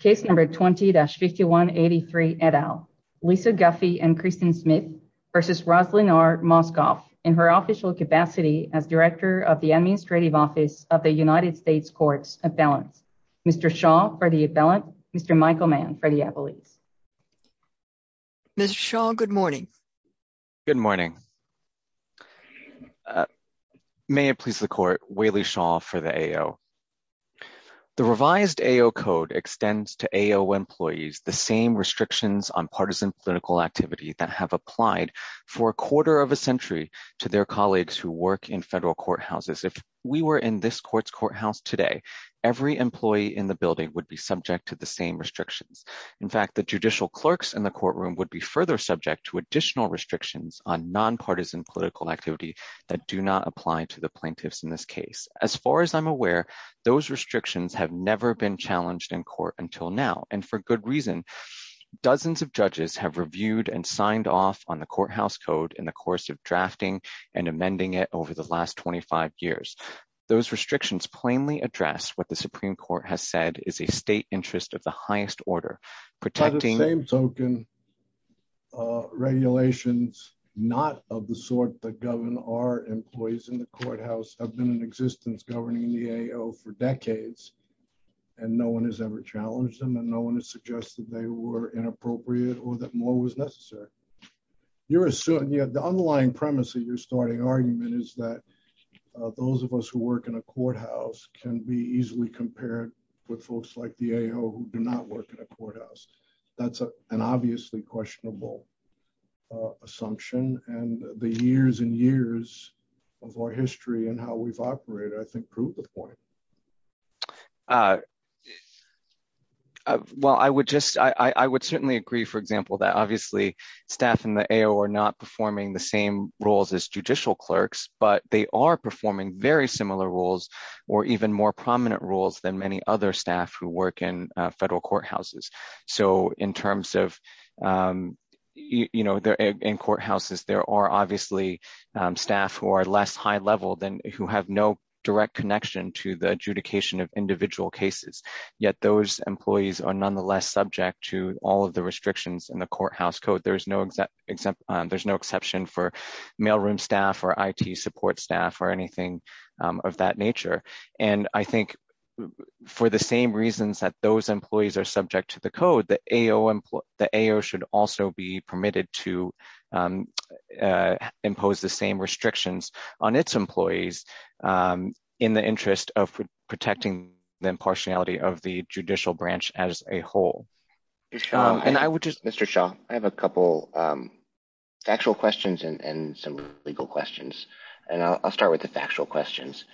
Case number 20-5183 et al. Lisa Guffey and Kristen Smith v. Roslynn R. Mauskopf in her official capacity as Director of the Administrative Office of the United States Courts Appellants. Mr. Shaw for the appellant, Mr. Michael Mann for the appellate. Mr. Shaw, good morning. Good morning. May it please the court, Waley Shaw for the AO. The revised AO code extends to AO employees the same restrictions on partisan clinical activity that have applied for a quarter of a century to their colleagues who work in federal courthouses. If we were in this court's courthouse today, every employee in the building would be subject to the same restrictions. In fact, the judicial clerks in the courtroom activity that do not apply to the plaintiffs in this case. As far as I'm aware, those restrictions have never been challenged in court until now. And for good reason, dozens of judges have reviewed and signed off on the courthouse code in the course of drafting and amending it over the last 25 years. Those restrictions plainly address what the Supreme Court has said is a state interest of the highest order. By the same token, regulations not of the sort that govern our employees in the courthouse have been in existence governing the AO for decades, and no one has ever challenged them and no one has suggested they were inappropriate or that more was necessary. The underlying premise of your starting argument is that those of us who work in a courthouse can be easily compared with folks like the AO who do not work in a courthouse. That's an obviously questionable assumption, and the years and years of our history and how we've operated, I think, prove the point. Well, I would certainly agree, for example, that obviously staff in the AO are not performing the same roles as judicial clerks, but they are performing very roles than many other staff who work in federal courthouses. So, in terms of courthouses, there are obviously staff who are less high level, who have no direct connection to the adjudication of individual cases, yet those employees are nonetheless subject to all of the restrictions in the courthouse code. There's no exception for mailroom staff or IT support staff or anything of that nature, and I think for the same reasons that those employees are subject to the code, the AO should also be permitted to impose the same restrictions on its employees in the interest of protecting the impartiality of the judicial branch as a whole. And I would just, Mr. Shaw, I have a couple factual questions and some legal questions, and I'll start with the factual questions.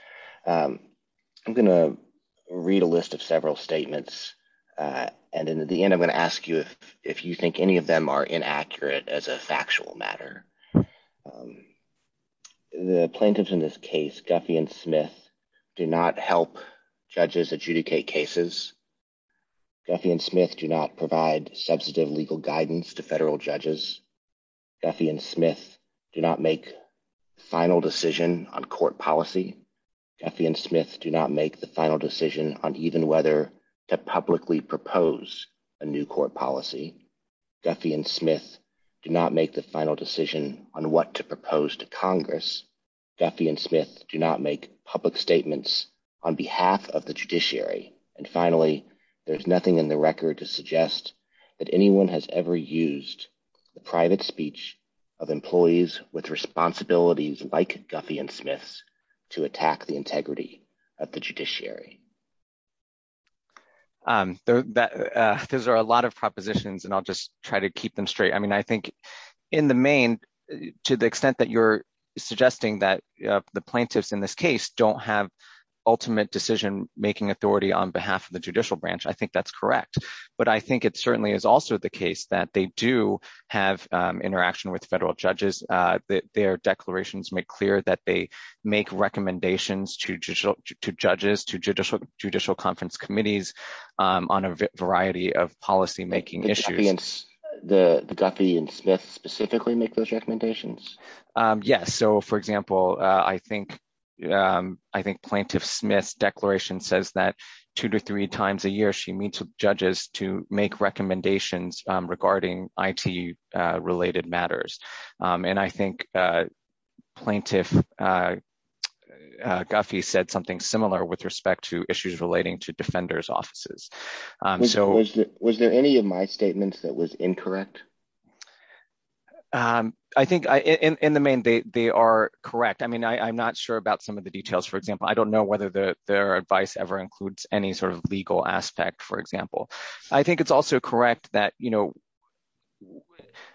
I'm going to read a list of several statements, and then at the end I'm going to ask you if you think any of them are inaccurate as a factual matter. The plaintiffs in this case, Guffey and Smith, do not help judges adjudicate cases. Guffey and Smith do not provide substantive legal guidance to federal judges. Guffey and Smith do not make the final decision on court policy. Guffey and Smith do not make the final decision on even whether to publicly propose a new court policy. Guffey and Smith do not make the final decision on what to propose to Congress. Guffey and Smith do not make public statements on behalf of the judiciary. And finally, there's nothing in the record to suggest that anyone has ever used the private speech of employees with responsibilities like Guffey and Smith to attack the integrity of the judiciary. Those are a lot of propositions, and I'll just try to keep them straight. I mean, I think in the main, to the extent that you're suggesting that the plaintiffs in this case don't have ultimate decision-making authority on behalf of the judicial branch, I think that's correct. But I think it certainly is also the case that they do have interaction with federal judges. Their declarations make clear that they make recommendations to judges, to judicial conference committees on a variety of policy-making issues. Did Guffey and Smith specifically make those recommendations? Yes. So, for example, I think Plaintiff Smith's declaration says that two to three times a year she meets with judges to make recommendations regarding IT-related matters. And I think Plaintiff Guffey said something similar with respect to issues relating to that was incorrect. I think in the main, they are correct. I mean, I'm not sure about some of the details, for example. I don't know whether their advice ever includes any sort of legal aspect, for example. I think it's also correct that, you know,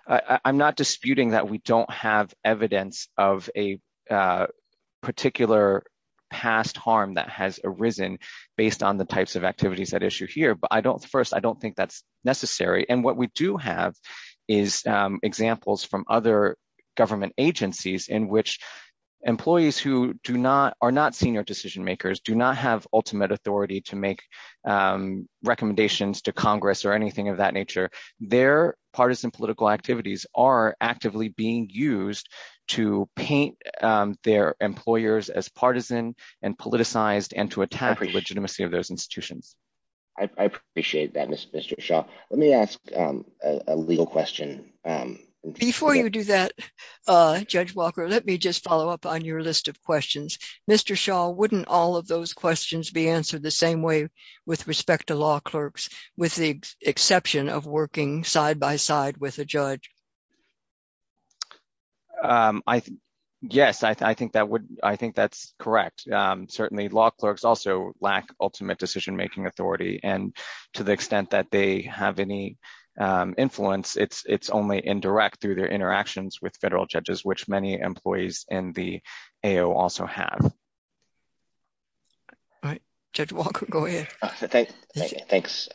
I'm not disputing that we don't have evidence of a particular past harm that has arisen based on the types of activities at issue here. But first, I don't think that's necessary. And what we do have is examples from other government agencies in which employees who are not senior decision makers do not have ultimate authority to make recommendations to Congress or anything of that nature. Their partisan political activities are actively being used to paint their employers as partisan and politicized and to attack the legitimacy of those institutions. I appreciate that, Mr. Shaw. Let me ask a legal question. Before you do that, Judge Walker, let me just follow up on your list of questions. Mr. Shaw, wouldn't all of those questions be answered the same way with respect to law clerks, with the exception of working side by side with a judge? Yes, I think that's correct. Certainly, law clerks also lack ultimate decision-making authority. And to the extent that they have any influence, it's only indirect through their interactions with federal judges, which many employees in the AO also have. All right, Judge Walker, go ahead. Thanks.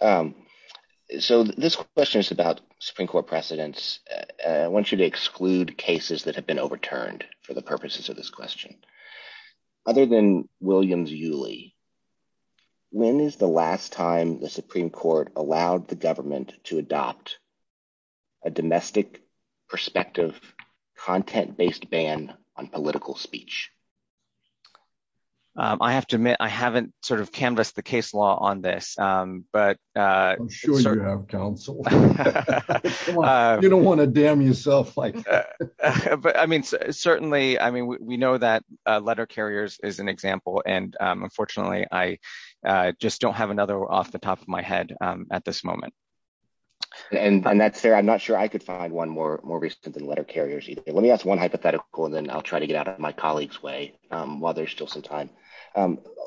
So this question is about Supreme Court precedents. I want you to exclude cases that have overturned for the purposes of this question. Other than Williams-Yuley, when is the last time the Supreme Court allowed the government to adopt a domestic perspective, content-based ban on political speech? I have to admit, I haven't sort of canvassed the case law on this. I'm sure you have, counsel. You don't want to damn yourself. But I mean, certainly, I mean, we know that letter carriers is an example. And unfortunately, I just don't have another off the top of my head at this moment. And that's fair. I'm not sure I could find one more recent than letter carriers. Let me ask one hypothetical, and then I'll try to get out of my colleague's way while there's still some time.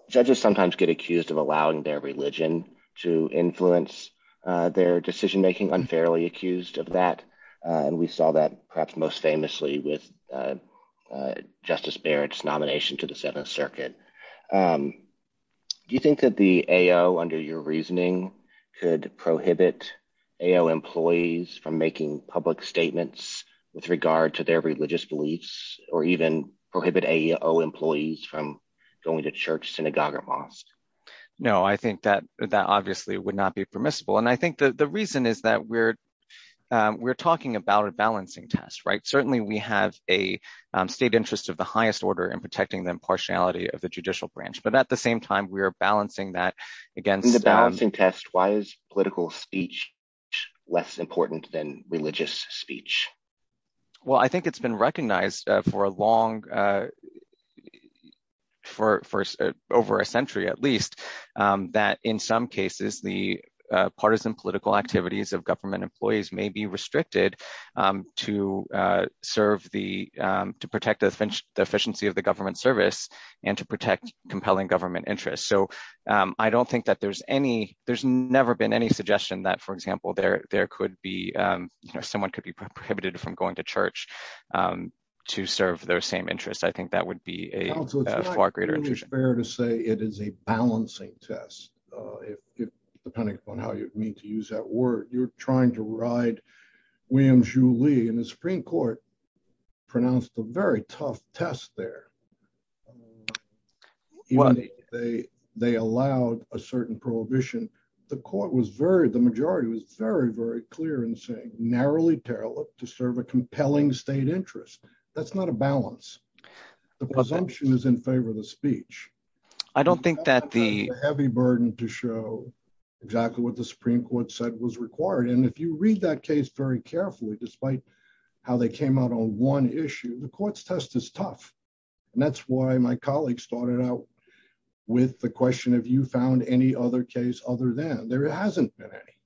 Judges sometimes get accused of allowing their religion to influence their decision-making, unfairly accused of that. And we saw that perhaps most famously with Justice Barrett's nomination to the Seventh Circuit. Do you think that the AO, under your reasoning, could prohibit AO employees from making public statements with regard to their religious beliefs, or even prohibit AO employees from going to church, synagogue, or mosque? No, I think that that obviously would not be permissible. And I think the reason is that we're talking about a balancing test, right? Certainly, we have a state interest of the highest order in protecting the impartiality of the judicial branch. But at the same time, we're balancing that against... In the balancing test, why is political speech less important than religious speech? Well, I think it's been recognized for over a century, at least, that in some cases, the partisan political activities of government employees may be restricted to protect the efficiency of the government service and to protect compelling government interests. So, I don't think that there's any... There's never been any suggestion that, for example, there could be... Someone could be prohibited from going to church to serve their same interests. I think that would be a far greater... Counsel, it's not really fair to say it is a balancing test, depending upon how you mean to use that word. You're trying to ride William Jouly, and the Supreme Court pronounced a very tough test there. They allowed a certain prohibition. The Court was very... The majority was very, very clear in saying, narrowly tailored to serve a compelling state interest. That's not a balance. The presumption is in favor of the speech. I don't think that the... It's a heavy burden to show exactly what the Supreme Court said was required. And if you read that case very carefully, despite how they came out on one issue, the court's test is tough. And that's why my colleagues started out with the question, have you found any other case other than... There hasn't been any.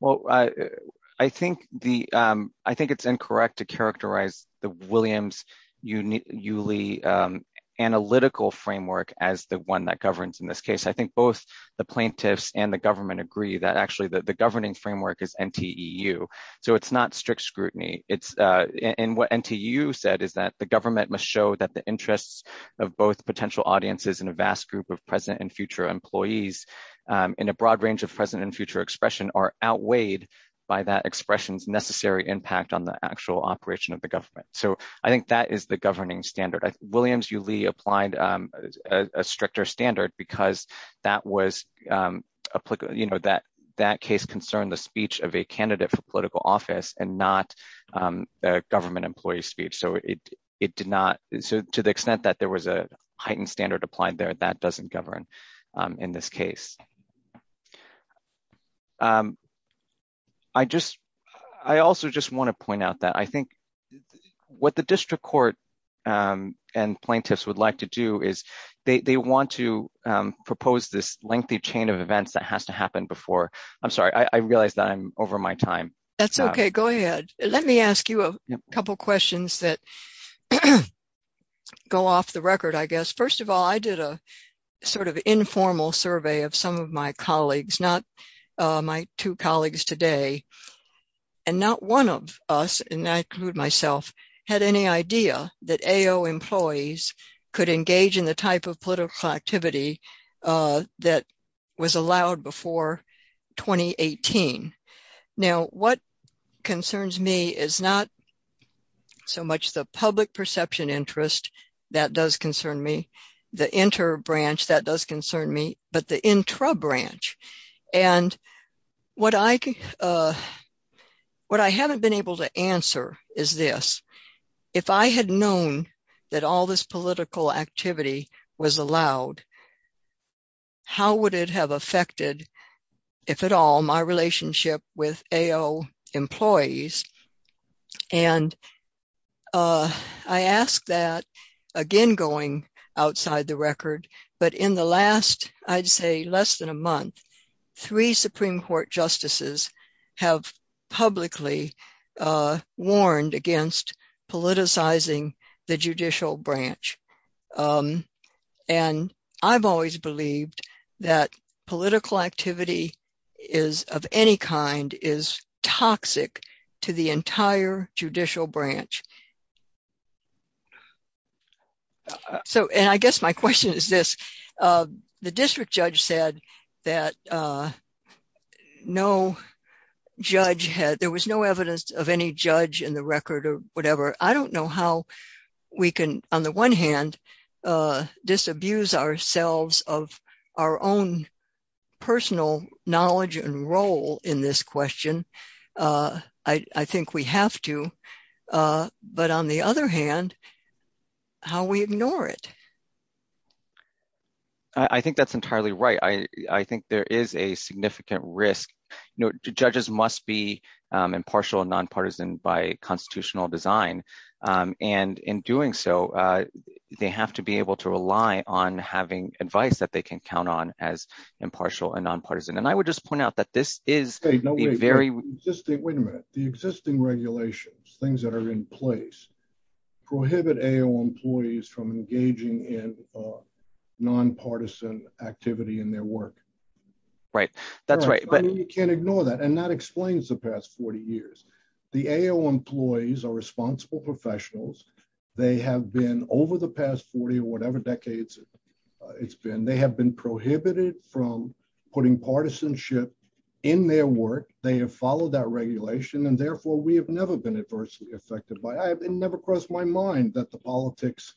Well, I think the... I think it's incorrect to characterize the Williams-Jouly analytical framework as the one that governs in this case. I think both the plaintiffs and the government agree that actually the governing framework is NTEU. So it's not strict scrutiny. And what NTEU said is that the government must show that the interests of both potential audiences and a vast group of present and future employees in a broad range of present and future expression are outweighed by that expression's necessary impact on the actual operation of the government. So I think that is the governing standard. Williams-Jouly applied a stricter standard because that case concerned the speech of a candidate for political office and not a government employee speech. So it did not... So to the extent that there was a heightened standard applied there, that doesn't govern. In this case, I just... I also just want to point out that I think what the district court and plaintiffs would like to do is they want to propose this lengthy chain of events that has to happen before... I'm sorry. I realize that I'm over my time. That's okay. Go ahead. Let me ask you a couple of questions that go off the record, I guess. First of all, I did a sort of informal survey of some of my colleagues, not my two colleagues today, and not one of us, and I include myself, had any idea that AO employees could engage in the type of political activity that was allowed before 2018. Now what concerns me is not so much the inter-branch, that does concern me, but the intra-branch. And what I haven't been able to answer is this. If I had known that all this political activity was allowed, how would it have affected, if at all, my relationship with AO employees? And I ask that, again going outside the record, but in the last, I'd say, less than a month, three Supreme Court justices have publicly warned against politicizing the judicial branch. And I've always believed that political activity is, of any kind, is toxic to the entire judicial branch. And I guess my question is this. The district judge said that no judge had, there was no evidence of any judge in the record or whatever. I don't know how we can, on the one hand, disabuse ourselves of our own personal knowledge and role in this question, I think we have to, but on the other hand, how we ignore it. I think that's entirely right. I think there is a significant risk. Judges must be impartial and nonpartisan by constitutional design. And in doing so, they have to be able to rely on having advice that they can count on as impartial and nonpartisan. And I would just point out that this is a very- Wait a minute. The existing regulations, things that are in place, prohibit AO employees from engaging in nonpartisan activity in their work. Right. That's right. But you can't ignore that. And that explains the past 40 years. The AO employees are responsible professionals. They have been over the past 40 or whatever decades it's been. They have been prohibited from putting partisanship in their work. They have followed that regulation and therefore we have never been adversely affected by it. It never crossed my mind that the politics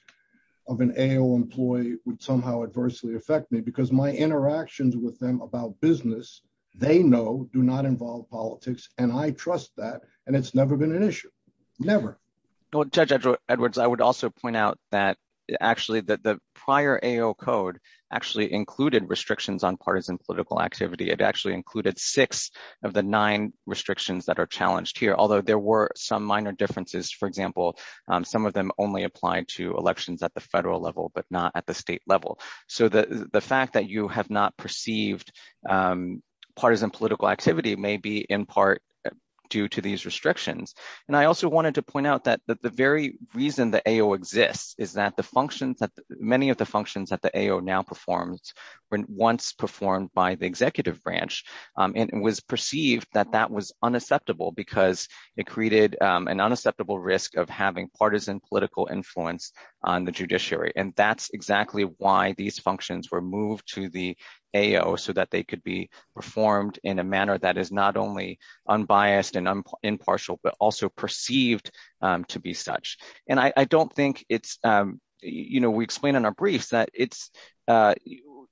of an AO employee would somehow adversely affect me because my interactions with them about business, they know do not involve politics. And I trust that. And it's never been an issue. Never. Well, Judge Edwards, I would also point out that actually the prior AO code actually included restrictions on partisan political activity. It actually included six of the nine restrictions that are challenged here. Although there were some minor differences, for example, some of them only applied to elections at the federal level, but not at the state level. So the fact that you have not perceived partisan political activity may be in part due to these restrictions. And I also wanted to point out that the very reason the AO exists is that many of the functions that the AO now performs once performed by the executive branch, it was perceived that that was unacceptable because it created an unacceptable risk of having partisan political influence on the judiciary. And that's exactly why these functions were moved to the AO so that they could be performed in a biased and impartial, but also perceived to be such. And I don't think it's, you know, we explained in our briefs that it's,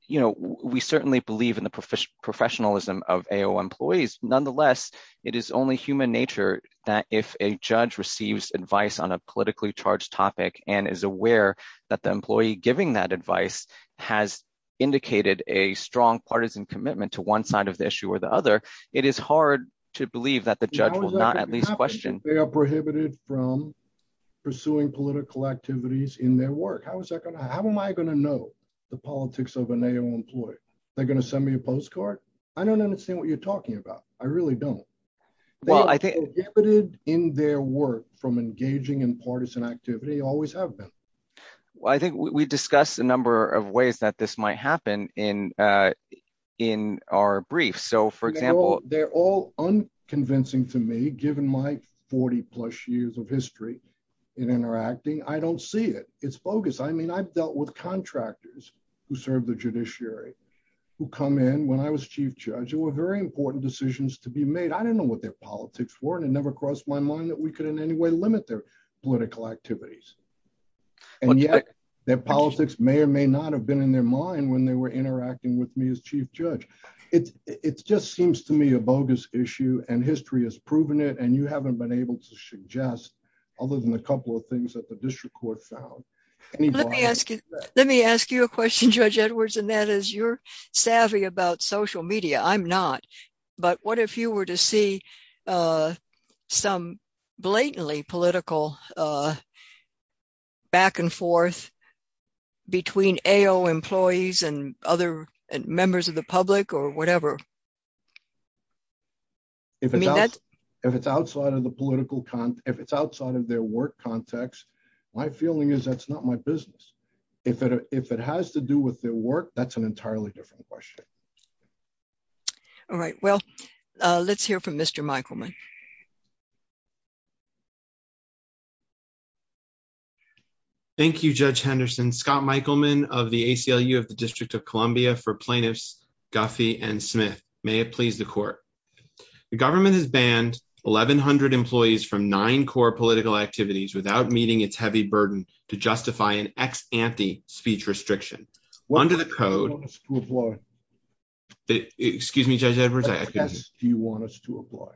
you know, we certainly believe in the professionalism of AO employees. Nonetheless, it is only human nature that if a judge receives advice on a politically charged topic and is aware that the employee giving that advice has indicated a strong that the judge will not at least question. They are prohibited from pursuing political activities in their work. How am I going to know the politics of an AO employee? They're going to send me a postcard? I don't understand what you're talking about. I really don't. They are prohibited in their work from engaging in partisan activity, always have been. Well, I think we discussed a number of ways that this might happen in our brief. So for example, they're all unconvincing to me, given my 40 plus years of history in interacting. I don't see it. It's bogus. I mean, I've dealt with contractors who served the judiciary, who come in when I was chief judge, who were very important decisions to be made. I didn't know what their politics were and it never crossed my mind that we could in any way limit their political activities. And yet, their politics may or may not have been in their mind when they were interacting with me as chief judge. It just seems to me a bogus issue and history has proven it and you haven't been able to suggest other than a couple of things that the district court found. Let me ask you a question, Judge Edwards, and that is you're savvy about social media. I'm not. But what if you were to see some blatantly political back and forth between AO employees and other members of the public or whatever? If it's outside of their work context, my feeling is that's not my business. If it has to do with their work, that's an entirely different question. All right. Well, let's hear from Mr. Michaelman. Thank you, Judge Henderson. Scott Michaelman of the ACLU of the District of Columbia for plaintiffs Guffey and Smith. May it please the court. The government has banned 1,100 employees from nine core political activities without meeting its heavy burden to justify an ex-ante speech restriction. Under the code... What do you want us to apply? Excuse me, Judge Edwards. Do you want us to apply?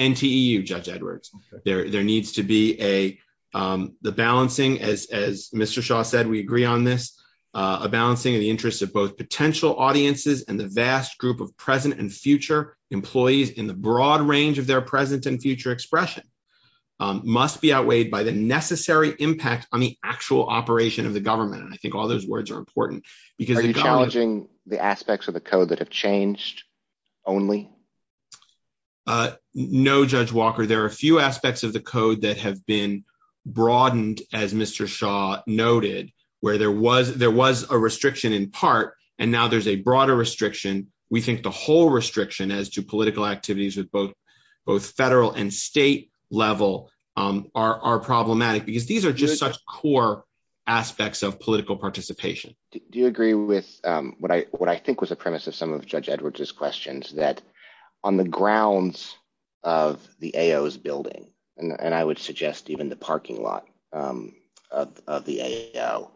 NTEU, Judge Edwards. There needs to be the balancing, as Mr. Shaw said, we agree on this, a balancing of the interests of both potential audiences and the vast group of present and future employees in the broad range of their present and future expression must be outweighed by the necessary impact on the actual operation of the government. And I think all those words are important because... Are you challenging the aspects of the code that have changed only? No, Judge Walker. There are a few aspects of the code that have been broadened, as Mr. Shaw noted, where there was a restriction in part, and now there's a broader restriction. We think the whole restriction as to political activities with both federal and state level are problematic because these are just such core aspects of Judge Edwards' questions that on the grounds of the AO's building, and I would suggest even the parking lot of the AO,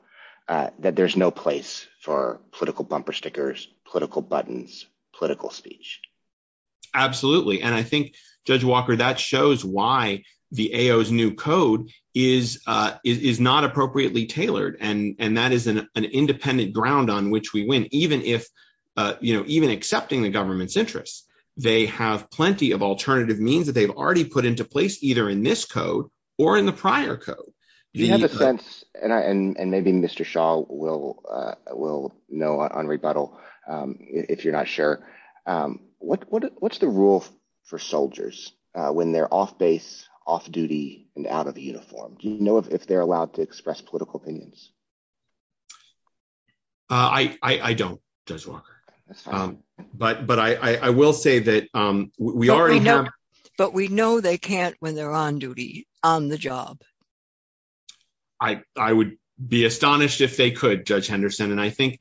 that there's no place for political bumper stickers, political buttons, political speech. Absolutely. And I think, Judge Walker, that shows why the AO's new code is not appropriately tailored. And that is an exception to the code. The AO's new code is not even accepting the government's interests. They have plenty of alternative means that they've already put into place either in this code or in the prior code. Do you have a sense, and maybe Mr. Shaw will know on rebuttal if you're not sure, what's the rule for soldiers when they're off base, off duty, and out of the uniform? Do you know if they're allowed to express political opinions? I don't, Judge Walker. But I will say that we already have- But we know they can't when they're on duty, on the job. I would be astonished if they could, Judge Henderson. And I think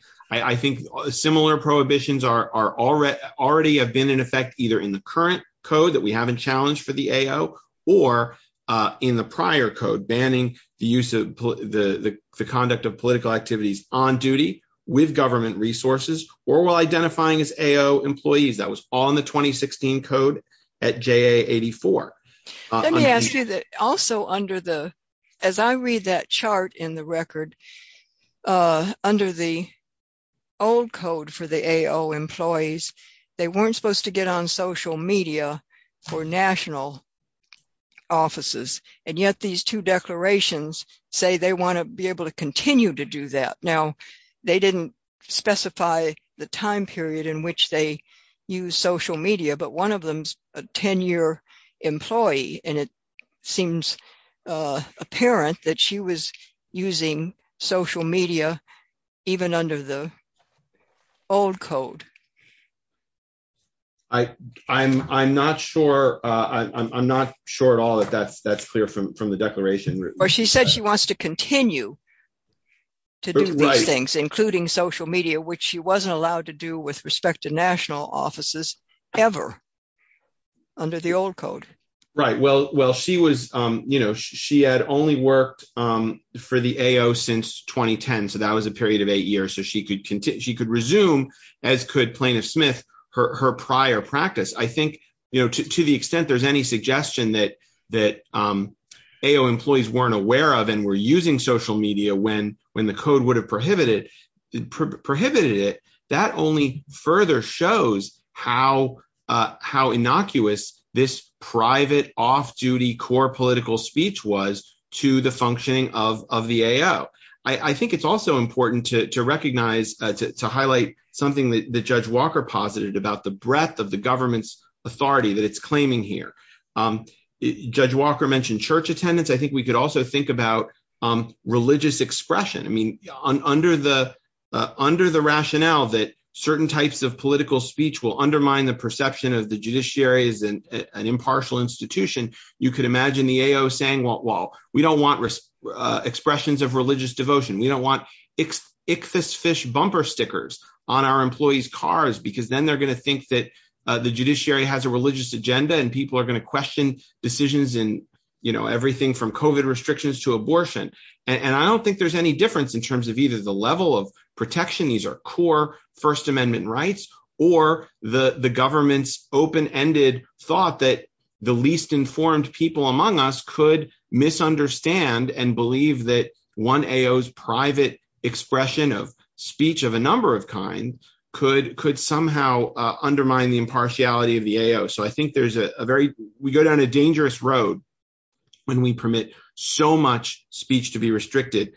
similar prohibitions already have been in effect either in the current code that we have in challenge for the AO, or in the prior code banning the conduct of political activities on duty with government resources or while identifying as AO employees. That was all in the 2016 code at JA 84. Let me ask you that also under the, as I read that chart in the record, under the old code for the AO employees, they weren't supposed to get on social media for national offices. And yet these two declarations say they want to be able to continue to do that. Now, they didn't specify the time period in which they use social media, but one of them's a 10-year employee, and it seems apparent that she was using social media even under the old code. I'm not sure at all that that's clear from the declaration. Or she said she wants to continue to do these things, including social media, which she wasn't allowed to do with respect to national offices ever under the old code. Right. Well, she had only worked for the AO since 2010, so that was a period of eight years, so she could resume, as could Plaintiff Smith, her prior practice. I think to the extent there's any suggestion that AO employees weren't aware of and were using social media when the code prohibited it, that only further shows how innocuous this private, off-duty, core political speech was to the functioning of the AO. I think it's also important to recognize, to highlight something that Judge Walker posited about the breadth of the government's authority that it's claiming here. Judge Walker mentioned church attendance. I think we could think about religious expression. Under the rationale that certain types of political speech will undermine the perception of the judiciary as an impartial institution, you could imagine the AO saying, well, we don't want expressions of religious devotion. We don't want ichthys fish bumper stickers on our employees' cars, because then they're going to think that the judiciary has a religious agenda and people are going to question decisions in everything from COVID restrictions to abortion. I don't think there's any difference in terms of either the level of protection, these are core First Amendment rights, or the government's open-ended thought that the least informed people among us could misunderstand and believe that one AO's private expression of speech of a number of kinds could somehow undermine the impartiality of the road when we permit so much speech to be restricted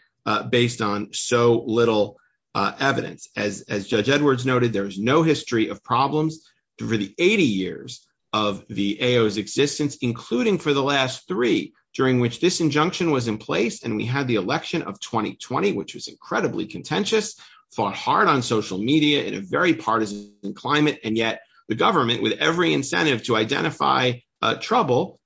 based on so little evidence. As Judge Edwards noted, there is no history of problems for the 80 years of the AO's existence, including for the last three, during which this injunction was in place and we had the election of 2020, which was incredibly contentious, fought hard on social media in a very partisan climate, and yet the government, with every incentive to identify trouble,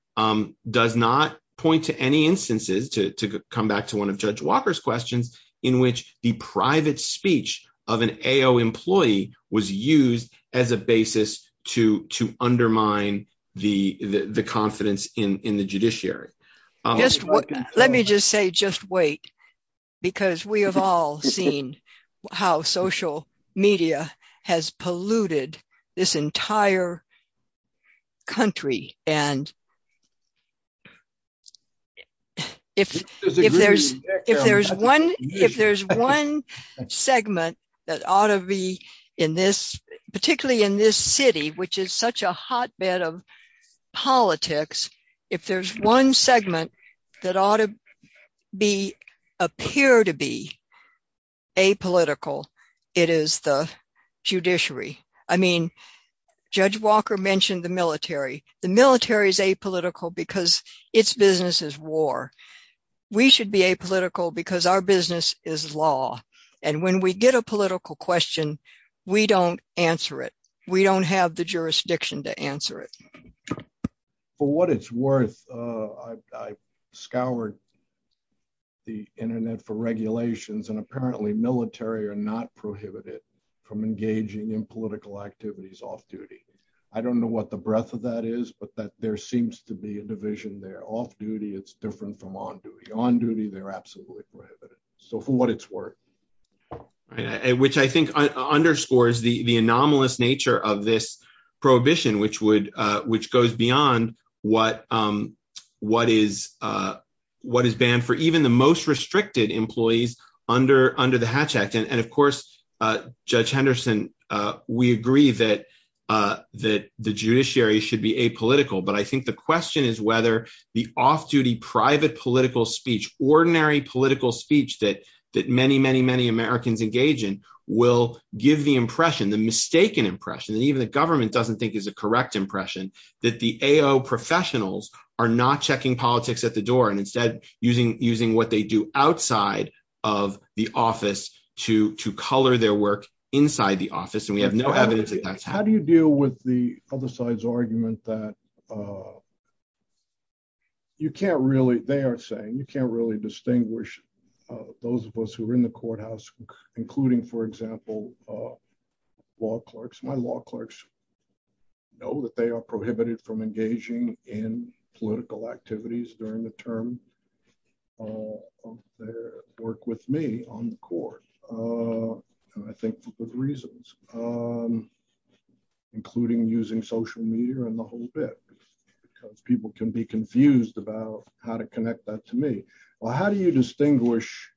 does not point to any instances, to come back to one of Judge Walker's questions, in which the private speech of an AO employee was used as a basis to undermine the confidence in the judiciary. Just let me just say, just wait, because we have all seen how social media has polluted this entire country, and if there's one segment that ought to be in this, particularly in this city, which is such a hotbed of politics, if there's one segment that ought to be, appear to be, apolitical, it is the judiciary. I mean, Judge Walker mentioned the military. The military is apolitical because its business is war. We should be apolitical because our We don't have the jurisdiction to answer it. For what it's worth, I scoured the internet for regulations, and apparently military are not prohibited from engaging in political activities off-duty. I don't know what the breadth of that is, but that there seems to be a division there. Off-duty, it's different from on-duty. On-duty, they're absolutely prohibited. So, for what it's worth. Which I think underscores the anomalous nature of this prohibition, which goes beyond what is banned for even the most restricted employees under the Hatch Act. And of course, Judge Henderson, we agree that the judiciary should be apolitical, but I think the question is whether the off-duty private political speech, ordinary political speech that many, many, many Americans engage in, will give the impression, the mistaken impression, that even the government doesn't think is a correct impression, that the AO professionals are not checking politics at the door, and instead, using what they do outside of the office to color their work inside the office, and we have no evidence that that's happening. How do you deal with the other side's argument that you can't really, they are saying, you can't really distinguish those of us who are in the courthouse, including, for example, law clerks. My law clerks know that they are prohibited from engaging in political activities during the term of their work with me on the court, and I think for good reasons, including using social media and the whole bit, because people can be confused about how to connect that to me. Well, how do you distinguish,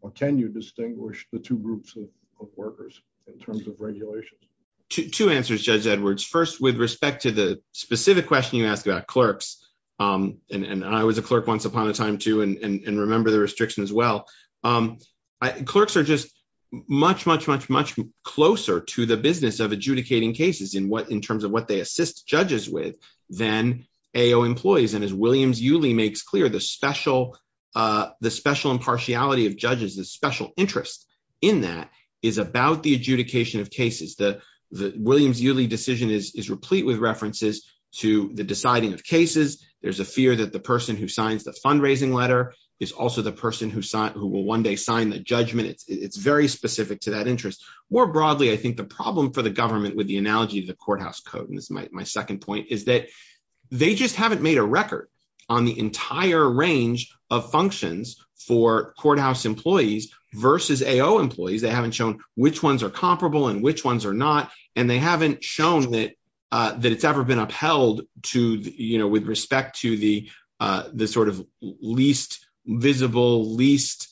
or can you distinguish the two groups of workers in terms of regulations? Two answers, Judge Edwards. First, with respect to the specific question you asked about clerks, and I was a clerk once upon a time, too, and remember the restriction as well, clerks are just much, much, much, much closer to the business of adjudicating cases in what, in terms of what they assist judges with than AO employees, and as Williams-Uley makes clear, the special impartiality of judges, the special interest in that is about the adjudication of cases. There's a fear that the person who signs the fundraising letter is also the person who will one day sign the judgment. It's very specific to that interest. More broadly, I think the problem for the government with the analogy of the courthouse code, and this is my second point, is that they just haven't made a record on the entire range of functions for courthouse employees versus AO employees. They haven't shown which ones are comparable and which to the least visible, least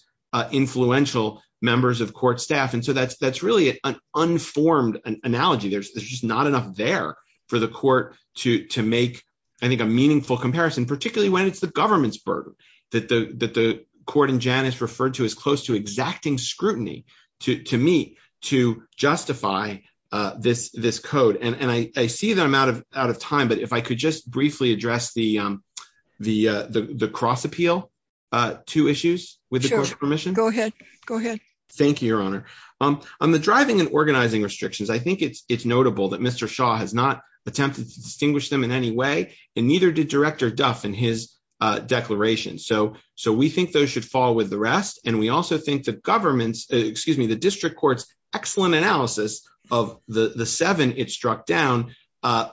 influential members of court staff. That's really an unformed analogy. There's just not enough there for the court to make a meaningful comparison, particularly when it's the government's burden that the court in Janice referred to as close to exacting scrutiny, to me, to justify this code. I see that I'm out of time, but if I could just address the cross-appeal, two issues, with the court's permission. Sure. Go ahead. Go ahead. Thank you, Your Honor. On the driving and organizing restrictions, I think it's notable that Mr. Shaw has not attempted to distinguish them in any way, and neither did Director Duff in his declaration. We think those should fall with the rest, and we also think the government's, excuse me, the district court's excellent analysis of the seven it struck down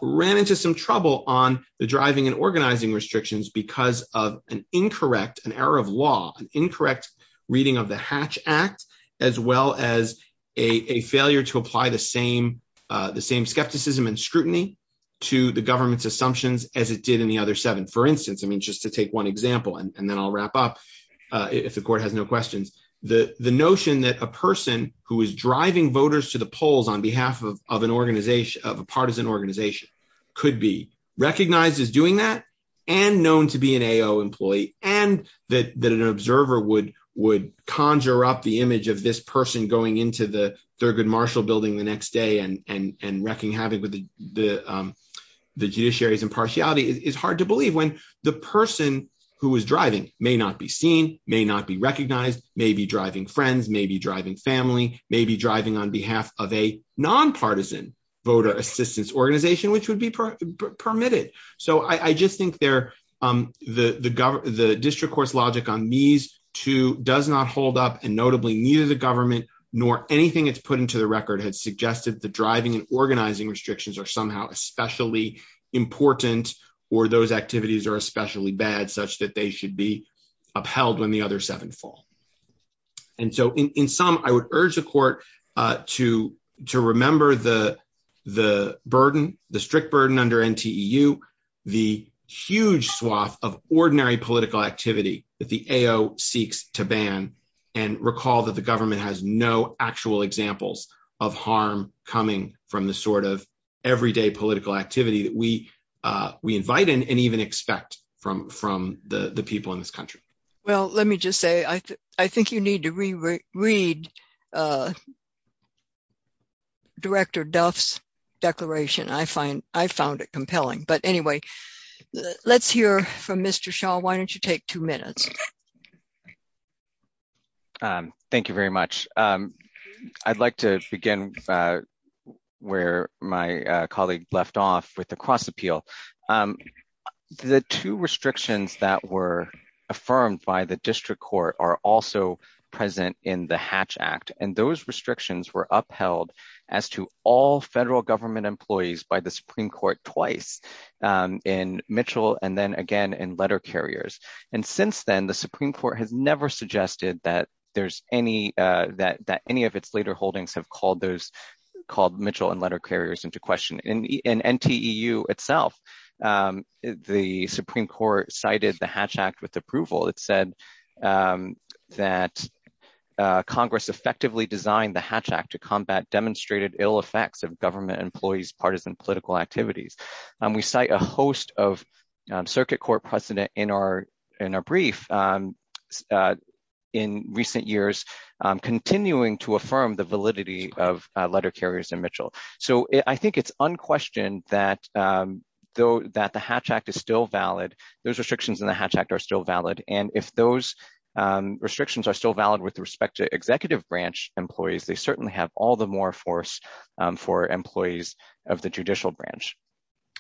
ran into some trouble on the driving and organizing restrictions because of an incorrect, an error of law, an incorrect reading of the Hatch Act, as well as a failure to apply the same skepticism and scrutiny to the government's assumptions as it did in the other seven. For instance, just to take one example, and then I'll wrap up if the court has no questions, the notion that a person who is recognized as doing that and known to be an AO employee and that an observer would conjure up the image of this person going into the Thurgood Marshall building the next day and wrecking havoc with the judiciary's impartiality is hard to believe when the person who is driving may not be seen, may not be recognized, may be driving friends, may be driving family, may be driving on behalf of a nonpartisan voter assistance organization, which would be permitted. So I just think the district court's logic on these two does not hold up, and notably neither the government nor anything it's put into the record had suggested the driving and organizing restrictions are somehow especially important or those activities are especially bad such that they should be upheld when the other seven fall. And so in sum, I would urge the court to remember the burden, the strict burden under NTEU, the huge swath of ordinary political activity that the AO seeks to ban and recall that the government has no actual examples of harm coming from the sort of Well, let me just say I think you need to reread Director Duff's declaration. I find I found it compelling. But anyway, let's hear from Mr. Shaw. Why don't you take two minutes? Thank you very much. I'd like to begin where my colleague left off with the cross appeal. The two restrictions that were affirmed by the district court are also present in the Hatch Act, and those restrictions were upheld as to all federal government employees by the Supreme Court twice in Mitchell and then again in letter carriers. And since then, the Supreme Court has never suggested that there's any that that any of its later holdings have called those called NTEU itself. The Supreme Court cited the Hatch Act with approval. It said that Congress effectively designed the Hatch Act to combat demonstrated ill effects of government employees, partisan political activities. And we cite a host of circuit court precedent in our in our brief in recent years, continuing to affirm the validity of letter carriers in Mitchell. So I think it's unquestioned that though that the Hatch Act is still valid, those restrictions in the Hatch Act are still valid. And if those restrictions are still valid with respect to executive branch employees, they certainly have all the more force for employees of the judicial branch.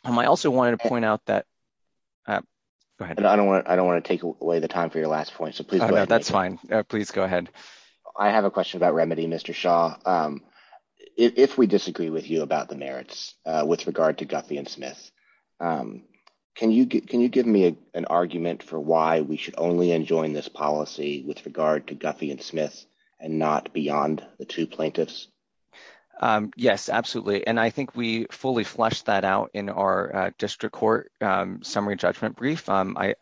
I also wanted to point out that I don't want I don't want to take away the time for your last point. So please, that's fine. Please go ahead. I have a question about remedy, Mr. Shaw. If we disagree with you about the merits with regard to Guffey and Smith, can you can you give me an argument for why we should only enjoin this policy with regard to Guffey and Smith, and not beyond the two plaintiffs? Yes, absolutely. And I think we fully fleshed that out in our district court summary judgment brief. I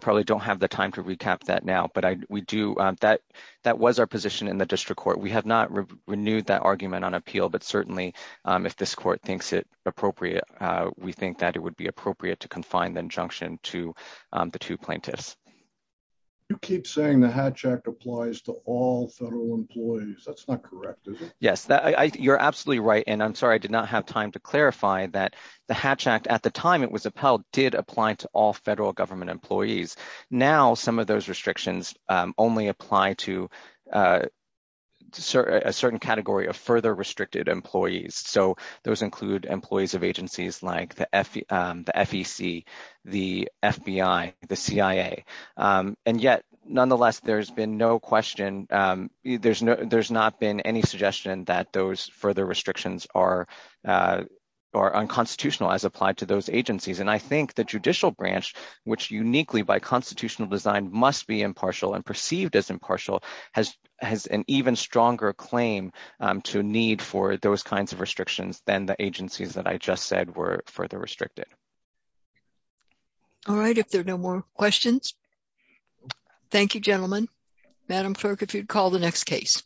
probably don't have the time to recap that now. But we do that. That was our position in the district court. We have not renewed that argument on appeal. But certainly, if this court thinks it appropriate, we think that it would be appropriate to confine the injunction to the two plaintiffs. You keep saying the Hatch Act applies to all federal employees. That's not correct, is it? Yes, you're absolutely right. And I'm sorry, I did not have time to clarify that the Hatch Act at the time it was upheld did apply to all federal government employees. Now, some of those restrictions only apply to a certain category of further restricted employees. So those include employees of agencies like the FEC, the FBI, the CIA. And yet, nonetheless, there's been no question. There's not been any suggestion that those further restrictions are unconstitutional as applied to those agencies. And I think the constitutional design must be impartial and perceived as impartial has an even stronger claim to need for those kinds of restrictions than the agencies that I just said were further restricted. All right. If there are no more questions. Thank you, gentlemen. Madam Clerk, if you'd call the next case.